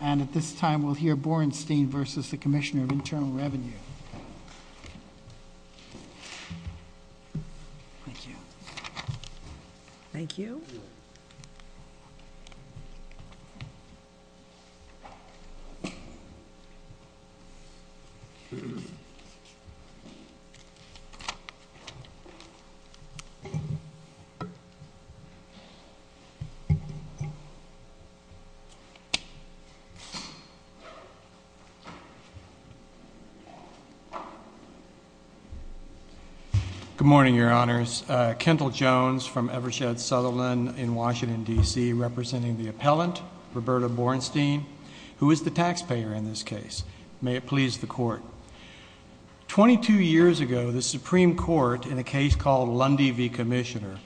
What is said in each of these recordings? And at this time, we'll hear Borenstein versus the Commissioner of Internal Revenue. Thank you. Thank you. Good morning, Your Honors. Kendall Jones from Evershed Sutherland in Washington, DC, representing the appellant, Roberta Borenstein, who is the taxpayer in this case. May it please the court. 22 years ago, the Supreme Court, in a case called Lundy v. Commissioner,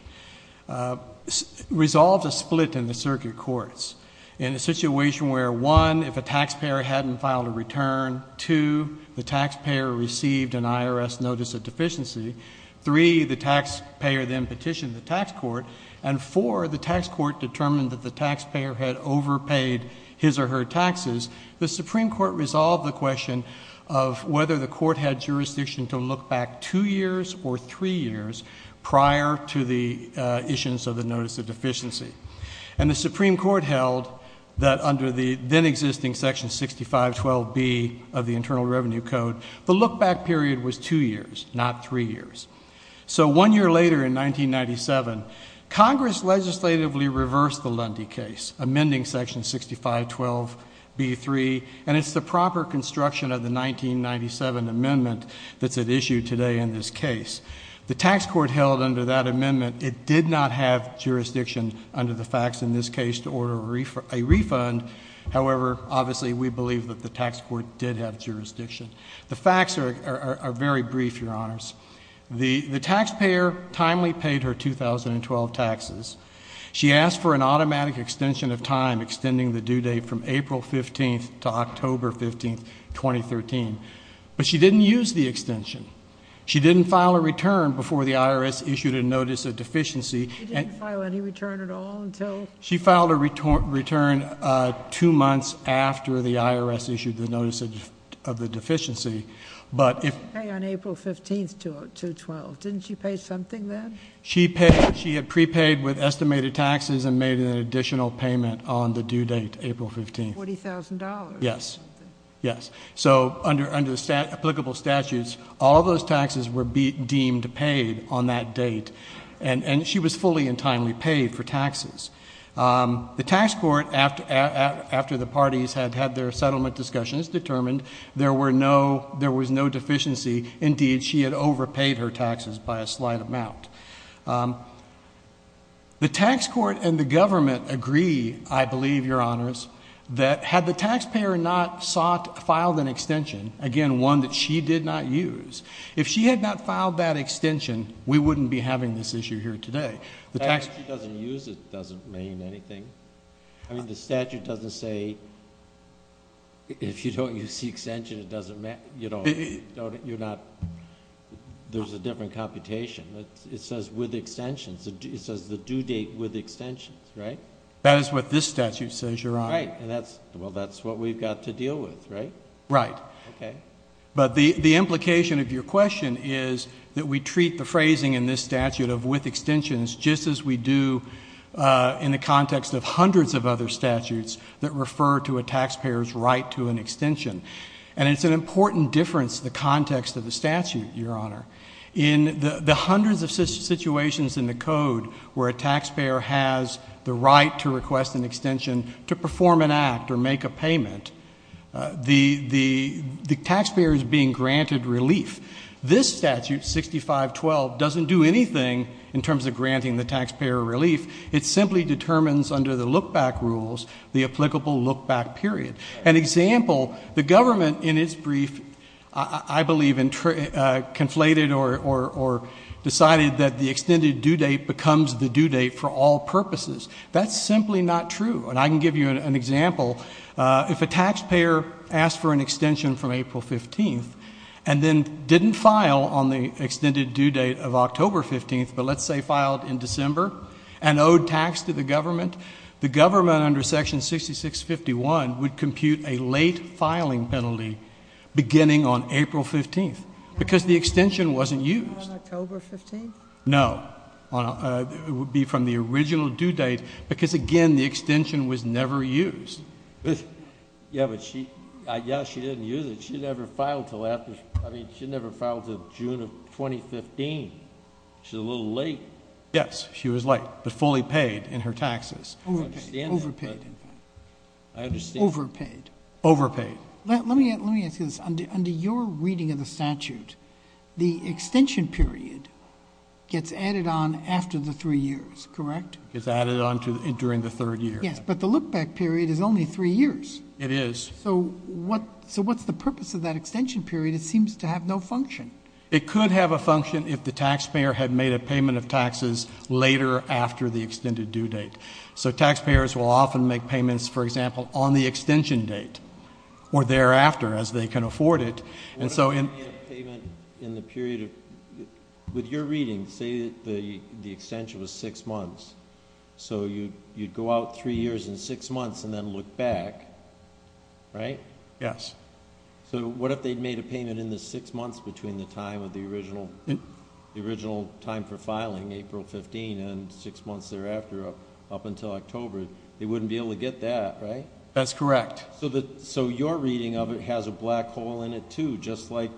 resolved a split in the circuit courts in a situation where, one, if a taxpayer hadn't filed a return, two, the taxpayer received an IRS notice of deficiency, three, the taxpayer then petitioned the tax court, and four, the tax court determined that the taxpayer had overpaid his or her taxes. The Supreme Court resolved the question of whether the court had jurisdiction to look back two years or three years prior to the issuance of the notice of deficiency. And the Supreme Court held that under the then-existing Section 6512B of the Internal Revenue Code, the look-back period was two years, not three years. So one year later, in 1997, Congress legislatively reversed the Lundy case, amending Section 6512B3, and it's the proper construction of the 1997 amendment that's at issue today in this case. The tax court held under that amendment, it did not have jurisdiction under the facts in this case to order a refund. However, obviously, we believe that the tax court did have jurisdiction. The facts are very brief, your honors. The taxpayer timely paid her 2012 taxes. She asked for an automatic extension of time, extending the due date from April 15th to October 15th, 2013, but she didn't use the extension. She didn't file a return before the IRS issued a notice of deficiency. She didn't file any return at all until- She filed a return two months after the IRS issued the notice of the deficiency. But if- She paid on April 15th to 12th. Didn't she pay something then? She had prepaid with estimated taxes and made an additional payment on the due date, April 15th. $40,000. Yes, yes. So under applicable statutes, all those taxes were deemed paid on that date. And she was fully and timely paid for taxes. The tax court, after the parties had had their settlement discussions, determined there was no deficiency. Indeed, she had overpaid her taxes by a slight amount. The tax court and the government agree, I believe, your honors, that had the taxpayer not filed an extension, again, one that she did not use. If she had not filed that extension, we wouldn't be having this issue here today. The tax- If she doesn't use it, it doesn't mean anything. I mean, the statute doesn't say, if you don't use the extension, it doesn't matter. You don't, you're not, there's a different computation. It says with extensions, it says the due date with extensions, right? That is what this statute says, your honor. Right, and that's, well, that's what we've got to deal with, right? Right. Okay. But the implication of your question is that we treat the phrasing in this statute of with extensions, just as we do in the context of hundreds of other statutes that refer to a taxpayer's right to an extension. And it's an important difference, the context of the statute, your honor. In the hundreds of situations in the code where a taxpayer has the right to request an extension to perform an act or make a payment, the taxpayer is being granted relief. This statute, 6512, doesn't do anything in terms of granting the taxpayer relief. It simply determines under the look back rules, the applicable look back period. An example, the government in its brief, I believe, conflated or decided that the extended due date becomes the due date for all purposes. That's simply not true, and I can give you an example. If a taxpayer asked for an extension from April 15th and then didn't file on the extended due date of October 15th, but let's say filed in December and owed tax to the government, the government under section 6651 would compute a late filing penalty beginning on April 15th, because the extension wasn't used. On October 15th? No, it would be from the original due date, because again, the extension was never used. Yeah, but she, yeah, she didn't use it. She never filed until after, I mean, she never filed until June of 2015. She's a little late. Yes, she was late, but fully paid in her taxes. Overpaid, overpaid. I understand. Overpaid. Overpaid. Let me ask you this, under your reading of the statute, the extension period gets added on after the three years, correct? It's added on during the third year. Yes, but the look back period is only three years. It is. So what's the purpose of that extension period? It seems to have no function. It could have a function if the taxpayer had made a payment of taxes later after the extended due date. So taxpayers will often make payments, for example, on the extension date, or thereafter as they can afford it. And so in- What would be a payment in the period of, with your reading, say the extension was six months. So you'd go out three years and six months and then look back, right? Yes. So what if they'd made a payment in the six months between the time of the original time for filing, April 15, and six months thereafter, up until October? They wouldn't be able to get that, right? That's correct. So your reading of it has a black hole in it too, just like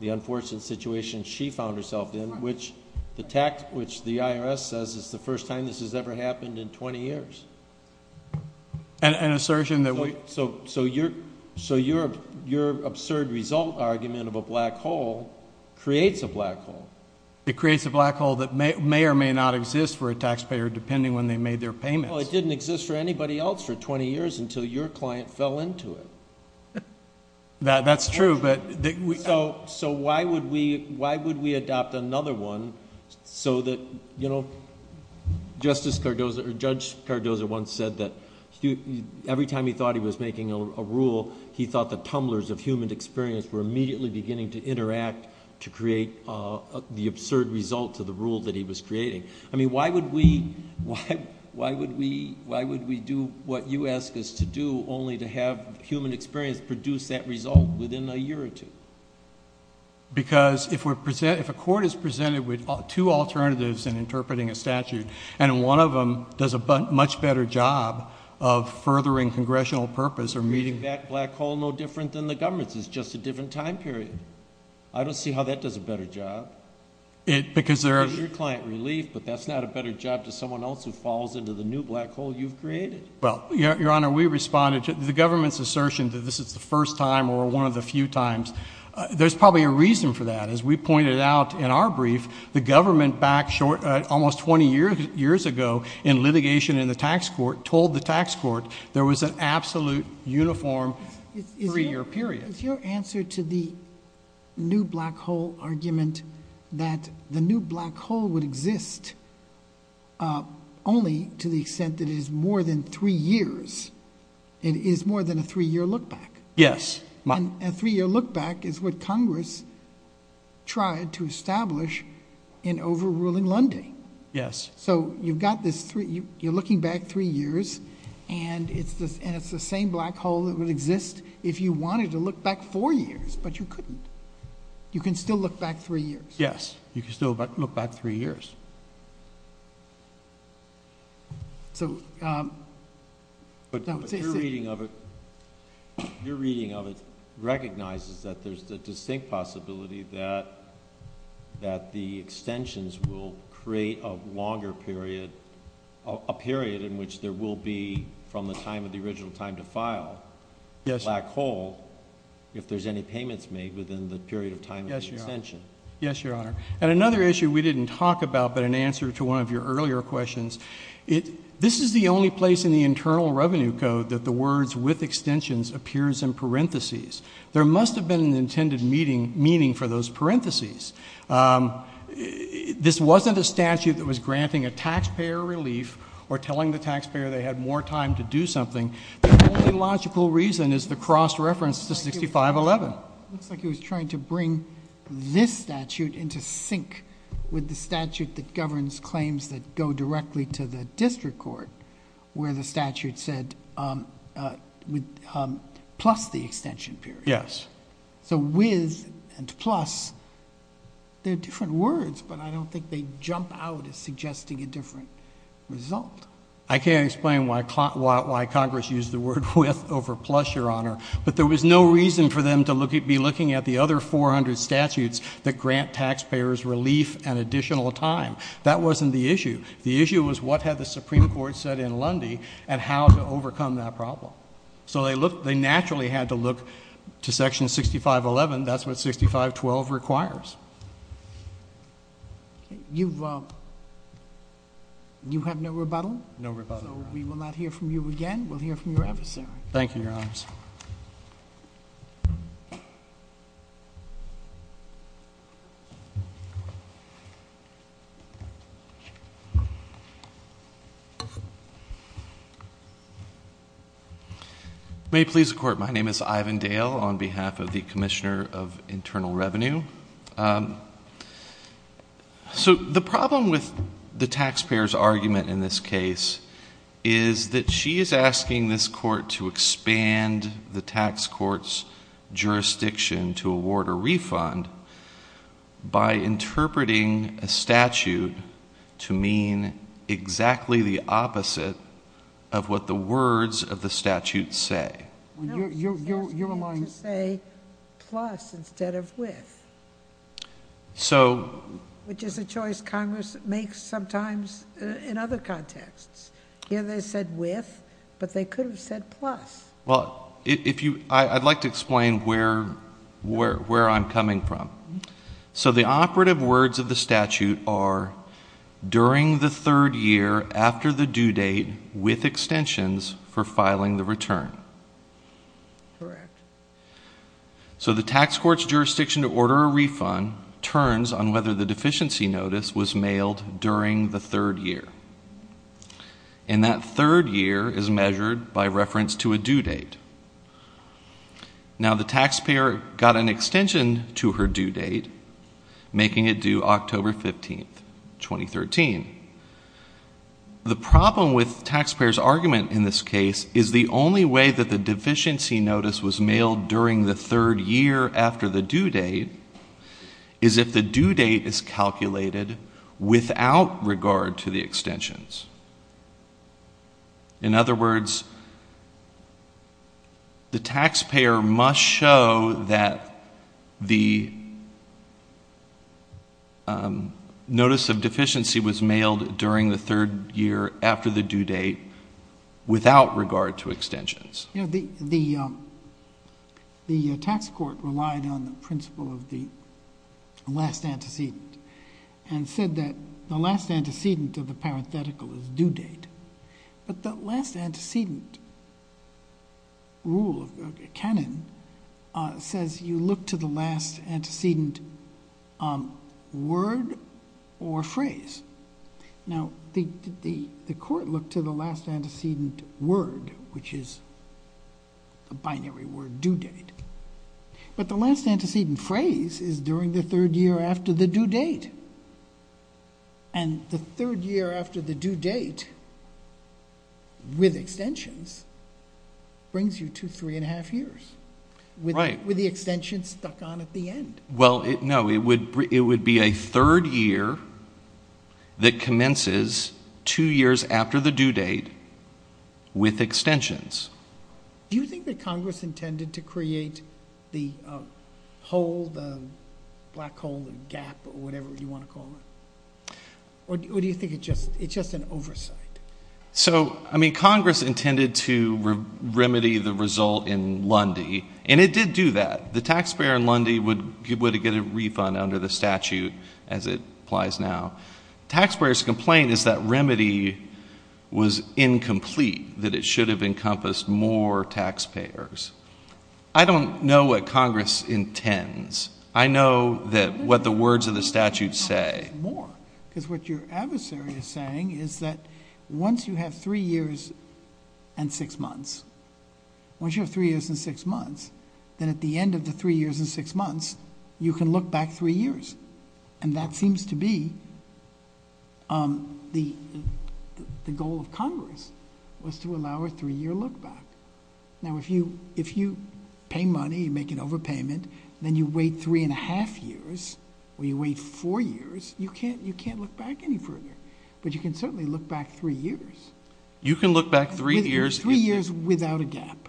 the unfortunate situation she found herself in, which the IRS says is the first time this has ever happened in 20 years. An assertion that we- So your absurd result argument of a black hole creates a black hole. It creates a black hole that may or may not exist for a taxpayer, depending on when they made their payments. Well, it didn't exist for anybody else for 20 years until your client fell into it. That's true, but- So why would we adopt another one so that, Justice Cardozo, or Judge Cardozo once said that every time he thought he was making a rule, he thought the tumblers of human experience were immediately beginning to interact to create the absurd result of the rule that he was creating. I mean, why would we do what you ask us to do, only to have human experience produce that result within a year or two? Because if a court is presented with two alternatives in interpreting a statute, and one of them does a much better job of furthering congressional purpose or meeting- That black hole no different than the government's, it's just a different time period. I don't see how that does a better job. Because there are- It gives your client relief, but that's not a better job to someone else who falls into the new black hole you've created. Well, Your Honor, we responded to the government's assertion that this is the first time or one of the few times. There's probably a reason for that. As we pointed out in our brief, the government back almost 20 years ago in litigation in the tax court, told the tax court there was an absolute uniform three year period. Is your answer to the new black hole argument that the new black hole would exist only to the extent that it is more than three years? It is more than a three year look back. Yes. And a three year look back is what Congress tried to establish in overruling Lundy. Yes. So you've got this three, you're looking back three years, and it's the same black hole that would exist if you wanted to look back four years, but you couldn't. You can still look back three years. Yes, you can still look back three years. So. But your reading of it recognizes that there's a distinct possibility that the extensions will create a longer period, a period in which there will be from the time of the original time to file. Yes. Black hole, if there's any payments made within the period of time of the extension. Yes, your honor. And another issue we didn't talk about, but in answer to one of your earlier questions. This is the only place in the internal revenue code that the words with extensions appears in parentheses. There must have been an intended meaning for those parentheses. This wasn't a statute that was granting a taxpayer relief or telling the taxpayer they had more time to do something. The only logical reason is the cross reference to 6511. Looks like he was trying to bring this statute into sync with the statute that governs claims that go directly to the district court. Where the statute said, plus the extension period. Yes. So with and plus, they're different words, but I don't think they jump out as suggesting a different result. I can't explain why Congress used the word with over plus, your honor. But there was no reason for them to be looking at the other 400 statutes that grant taxpayers relief and additional time. That wasn't the issue. The issue was what had the Supreme Court said in Lundy, and how to overcome that problem. So they naturally had to look to section 6511, that's what 6512 requires. You have no rebuttal? No rebuttal. So we will not hear from you again, we'll hear from your adversary. Thank you, your honors. May it please the court, my name is Ivan Dale on behalf of the Commissioner of Internal Revenue. So the problem with the taxpayer's argument in this case is that she is asking this court to expand the tax court's jurisdiction to award a refund by interpreting a statute to mean exactly the opposite of what the words of the statute say. You're among- To say plus instead of with. So- Which is a choice Congress makes sometimes in other contexts. Here they said with, but they could have said plus. Well, I'd like to explain where I'm coming from. So the operative words of the statute are during the third year after the due date with extensions for filing the return. Correct. So the tax court's jurisdiction to order a refund turns on whether the deficiency notice was mailed during the third year. And that third year is measured by reference to a due date. Now the taxpayer got an extension to her due date, making it due October 15th, 2013. The problem with the taxpayer's argument in this case is the only way that the deficiency notice was mailed during the third year after the due date is if the due date is calculated without regard to the extensions. In other words, the taxpayer must show that the notice of deficiency was mailed during the third year after the due date. Without regard to extensions. The tax court relied on the principle of the last antecedent and said that the last antecedent of the parenthetical is due date. But the last antecedent rule of canon says you look to the last antecedent word or phrase. Now the court looked to the last antecedent word, which is a binary word, due date. But the last antecedent phrase is during the third year after the due date. And the third year after the due date with extensions brings you to three and a half years. Right. With the extension stuck on at the end. Well, no, it would be a third year that commences two years after the due date with extensions. Do you think that Congress intended to create the hole, the black hole, the gap, or whatever you want to call it? Or do you think it's just an oversight? So, I mean, Congress intended to remedy the result in Lundy. And it did do that. The taxpayer in Lundy would get a refund under the statute as it applies now. Taxpayers' complaint is that remedy was incomplete, that it should have encompassed more taxpayers. I don't know what Congress intends. I know what the words of the statute say. Because what your adversary is saying is that once you have three years and six months, once you have three years and six months, then at the end of the three years and six months, you can look back three years. And that seems to be the goal of Congress, was to allow a three-year look back. Now, if you pay money, you make an overpayment, then you wait three and a half years, or you wait four years, you can't look back any further. But you can certainly look back three years. You can look back three years. Three years without a gap.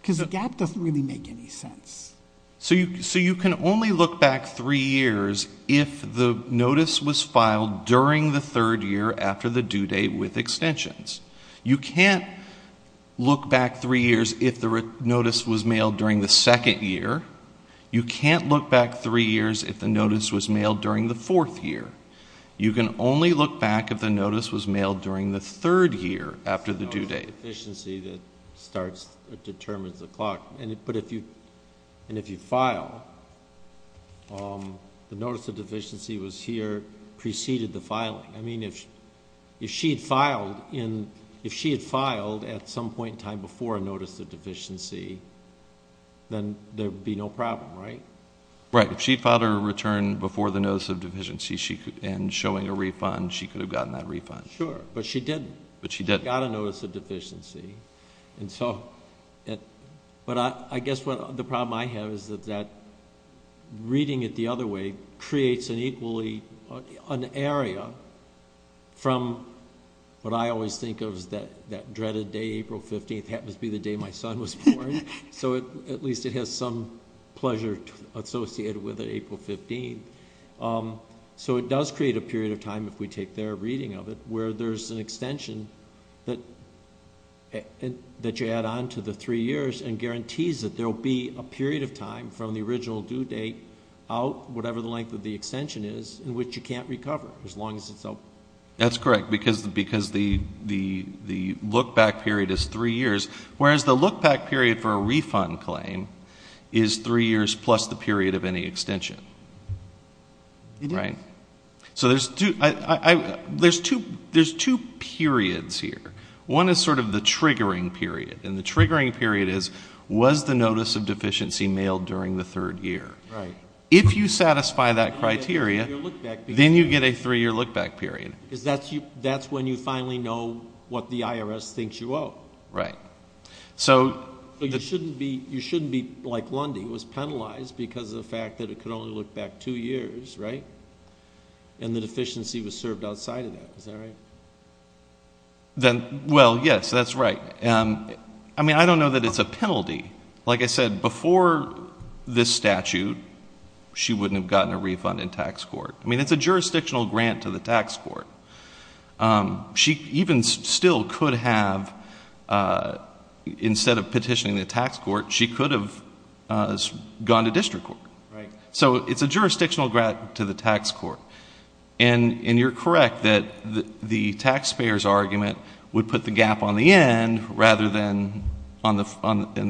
Because a gap doesn't really make any sense. So you can only look back three years if the notice was filed during the third year after the due date with extensions. You can't look back three years if the notice was mailed during the second year. You can't look back three years if the notice was mailed during the fourth year. You can only look back if the notice was mailed during the third year after the due date. ...deficiency that starts or determines the clock. But if you file, the notice of deficiency was here preceded the filing. I mean, if she had filed at some point in time before a notice of deficiency, then there would be no problem, right? Right. If she filed her return before the notice of deficiency and showing a refund, she could have gotten that refund. Sure. But she didn't. But she didn't. She got a notice of deficiency. And so, but I guess the problem I have is that reading it the other way creates an equally, an area from what I always think of as that dreaded day, April 15th, happens to be the day my son was born. So at least it has some pleasure associated with it, April 15th. So it does create a period of time, if we take their reading of it, where there's an extension that you add on to the three years and guarantees that there'll be a period of time from the original due date out, whatever the length of the extension is, in which you can't recover as long as it's out. That's correct, because the look back period is three years. Whereas the look back period for a refund claim is three years plus the period of any extension. It is. Right? So there's two periods here. One is sort of the triggering period. And the triggering period is, was the notice of deficiency mailed during the third year? Right. If you satisfy that criteria, then you get a three year look back period. Because that's when you finally know what the IRS thinks you owe. Right. You shouldn't be like Lundy, who was penalized because of the fact that it could only look back two years, right? And the deficiency was served outside of that, is that right? Well, yes, that's right. I mean, I don't know that it's a penalty. Like I said, before this statute, she wouldn't have gotten a refund in tax court. I mean, it's a jurisdictional grant to the tax court. She even still could have, instead of petitioning the tax court, she could have gone to district court. Right. So it's a jurisdictional grant to the tax court. And you're correct that the taxpayer's argument would put the gap on the end rather than on the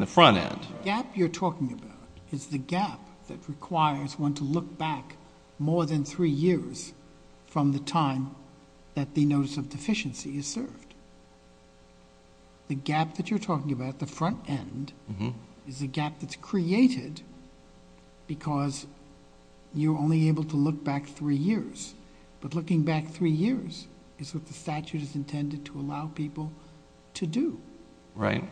front end. The gap you're talking about is the gap that requires one to look back more than three years from the time that the notice of deficiency is served. The gap that you're talking about, the front end, is a gap that's created because you're only able to look back three years. But looking back three years is what the statute is intended to allow people to do. Right.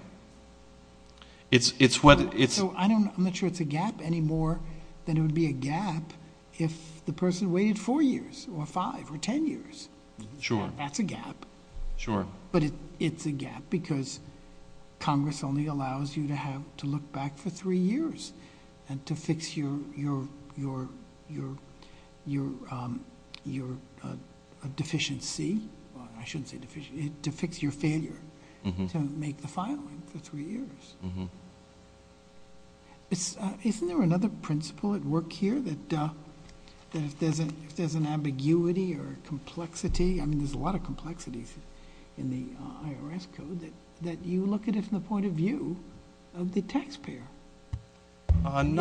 So I'm not sure it's a gap anymore than it would be a gap if the person waited four years or five or ten years. Sure. That's a gap. Sure. But it's a gap because Congress only allows you to have to look back for three years and to fix your deficiency, I shouldn't say deficiency, to fix your failure to make the filing for three years. Isn't there another principle at work here that if there's an ambiguity or complexity, I mean there's a lot of complexities in the IRS code, that you look at it from the point of view of the taxpayer? Isn't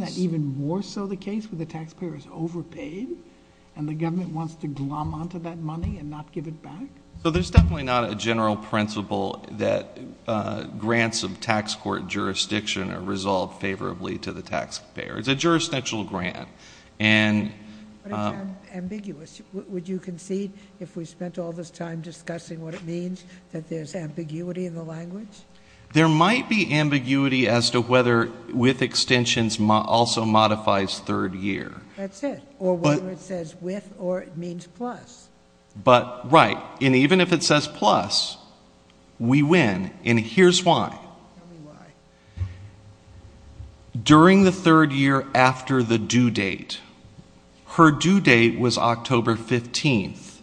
that even more so the case where the taxpayer is overpaid and the government wants to glom onto that money and not give it back? So there's definitely not a general principle that grants of tax court jurisdiction are resolved favorably to the taxpayer. It's a jurisdictional grant. But it's ambiguous. Would you concede if we spent all this time discussing what it means that there's ambiguity in the language? There might be ambiguity as to whether with extensions also modifies third year. That's it. Or whether it says with or it means plus. But right. And even if it says plus, we win. And here's why. Tell me why. During the third year after the due date, her due date was October 15th,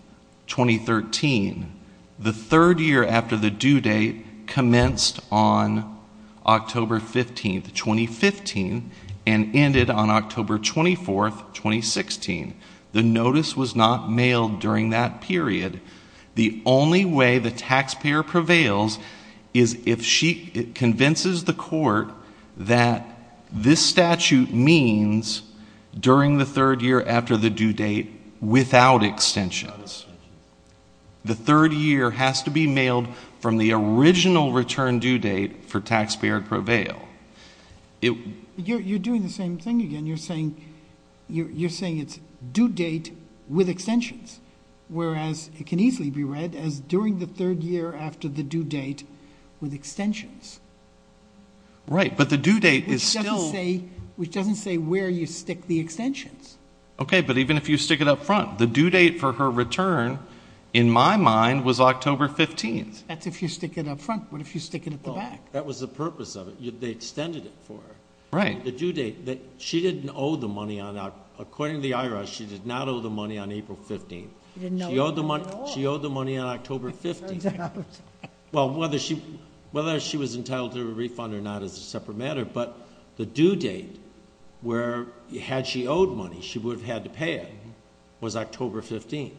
2013. The third year after the due date commenced on October 15th, 2015 and ended on October 24th, 2016. The notice was not mailed during that period. The only way the taxpayer prevails is if she convinces the court that this statute means during the third year after the due date without extensions. The third year has to be mailed from the original return due date for taxpayer prevail. You're doing the same thing again. You're saying it's due date with extensions. Whereas it can easily be read as during the third year after the due date with extensions. Right. But the due date is still. Which doesn't say where you stick the extensions. Okay. But even if you stick it up front, the due date for her return in my mind was October 15th. That's if you stick it up front. What if you stick it at the back? That was the purpose of it. They extended it for her. Right. The due date. She didn't owe the money. According to the IRS, she did not owe the money on April 15th. She owed the money on October 15th. Well, whether she was entitled to a refund or not is a separate matter. But the due date, where had she owed money, she would have had to pay it, was October 15th.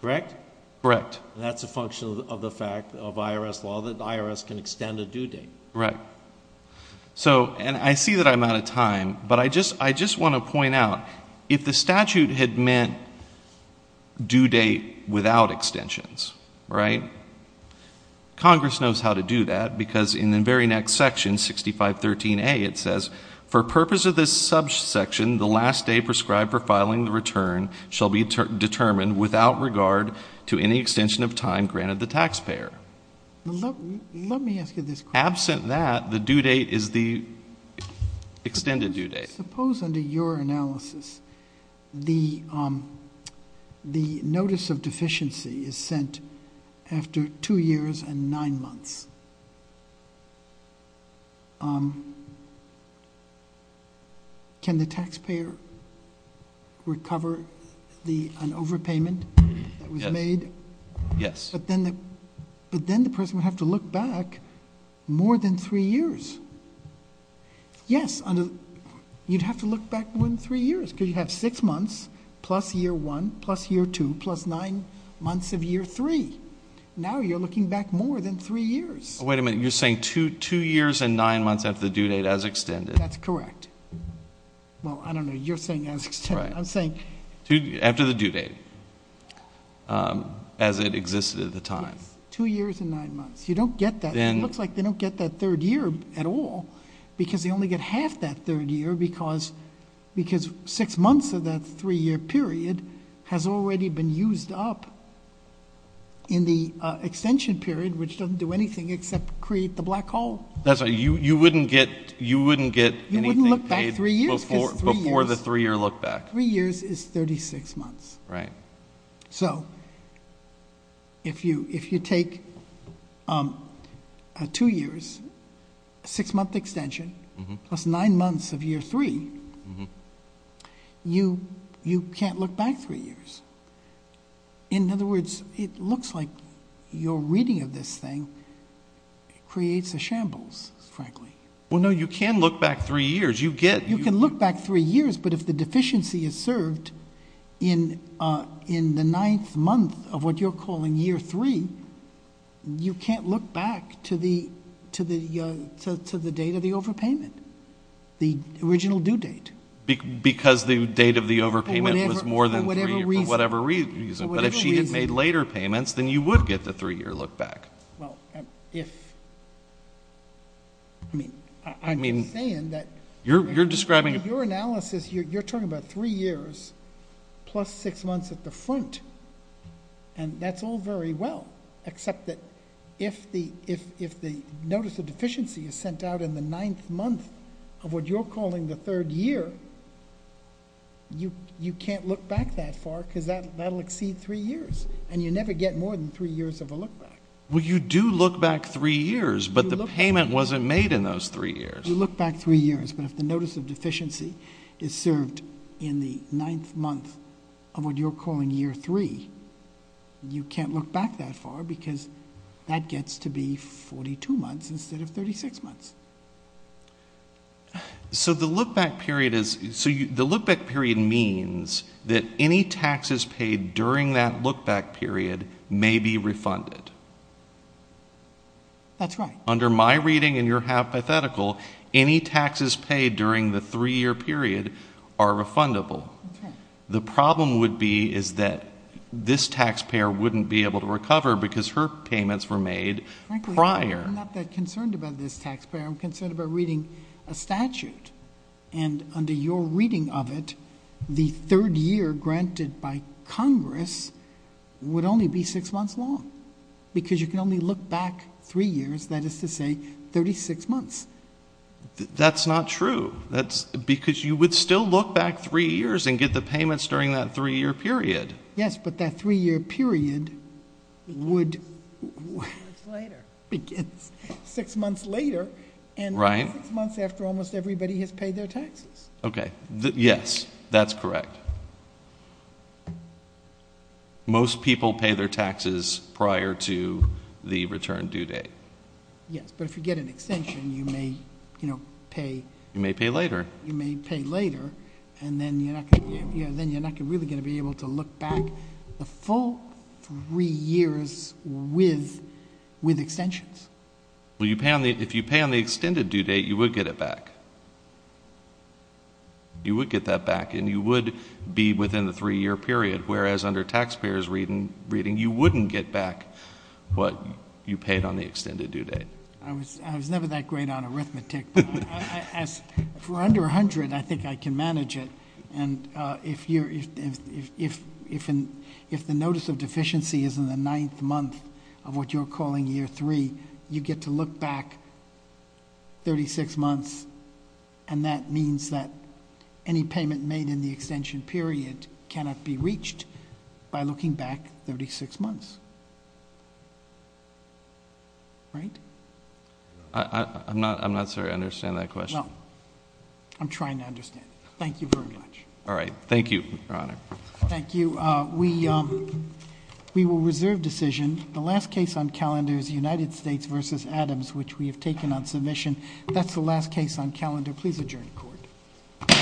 Correct? Correct. And that's a function of the fact of IRS law that the IRS can extend a due date. Right. So, and I see that I'm out of time. But I just want to point out, if the statute had meant due date without extensions, right, because in the very next section, 6513A, it says, for purpose of this subsection, the last day prescribed for filing the return shall be determined without regard to any extension of time granted the taxpayer. Let me ask you this question. Absent that, the due date is the extended due date. Suppose under your analysis, the notice of deficiency is sent after two years and nine months. Can the taxpayer recover an overpayment that was made? Yes. But then the person would have to look back more than three years. Yes. You'd have to look back more than three years because you have six months plus year one, plus year two, plus nine months of year three. Now you're looking back more than three years. Wait a minute. You're saying two years and nine months after the due date as extended? That's correct. Well, I don't know. You're saying as extended. I'm saying... After the due date, as it existed at the time. Yes. Two years and nine months. You don't get that. It looks like they don't get that third year at all because they only get half that third year because six months of that three-year period has already been used up in the extension period, which doesn't do anything except create the black hole. That's right. You wouldn't get anything paid before the three-year look back. Three years is 36 months. Right. So if you take two years, six-month extension, plus nine months of year three, you can't look back three years. In other words, it looks like your reading of this thing creates a shambles, frankly. Well, no. You can look back three years. You get... If you take nine months of what you're calling year three, you can't look back to the date of the overpayment, the original due date. Because the date of the overpayment was more than three years. For whatever reason. For whatever reason. But if she had made later payments, then you would get the three-year look back. Well, if... I mean, I'm just saying that... You're describing... Your analysis, you're talking about three years plus six months at the front. And that's all very well, except that if the notice of deficiency is sent out in the ninth month of what you're calling the third year, you can't look back that far because that will exceed three years. And you never get more than three years of a look back. Well, you do look back three years, but the payment wasn't made in those three years. You look back three years, but if the notice of deficiency is served in the ninth month of what you're calling year three, you can't look back that far because that gets to be 42 months instead of 36 months. So the look back period is... The look back period means that any taxes paid during that look back period may be refunded. That's right. Under my reading, and you're hypothetical, any taxes paid during the three-year period are refundable. The problem would be is that this taxpayer wouldn't be able to recover because her payments were made prior. Frankly, I'm not that concerned about this taxpayer. I'm concerned about reading a statute. And under your reading of it, the third year granted by Congress would only be six months long because you can only look back three years. That is to say 36 months. That's not true. Because you would still look back three years and get the payments during that three-year period. Yes, but that three-year period would... Six months later. Six months later. Right. And six months after almost everybody has paid their taxes. Okay. Yes, that's correct. But most people pay their taxes prior to the return due date. Yes, but if you get an extension, you may pay... You may pay later. You may pay later, and then you're not really going to be able to look back the full three years with extensions. If you pay on the extended due date, you would get it back. You would get that back, and you would be within the three-year period, whereas under taxpayers' reading, you wouldn't get back what you paid on the extended due date. I was never that great on arithmetic, but for under 100, I think I can manage it. And if the notice of deficiency is in the ninth month of what you're calling year three, you get to look back 36 months, and that means that any payment made in the extension period cannot be reached by looking back 36 months. Right? I'm not sure I understand that question. No. I'm trying to understand it. Thank you very much. All right. Thank you, Your Honor. Thank you. We will reserve decision. The last case on calendar is United States v. Adams, which we have taken on submission. That's the last case on calendar. Please adjourn to court.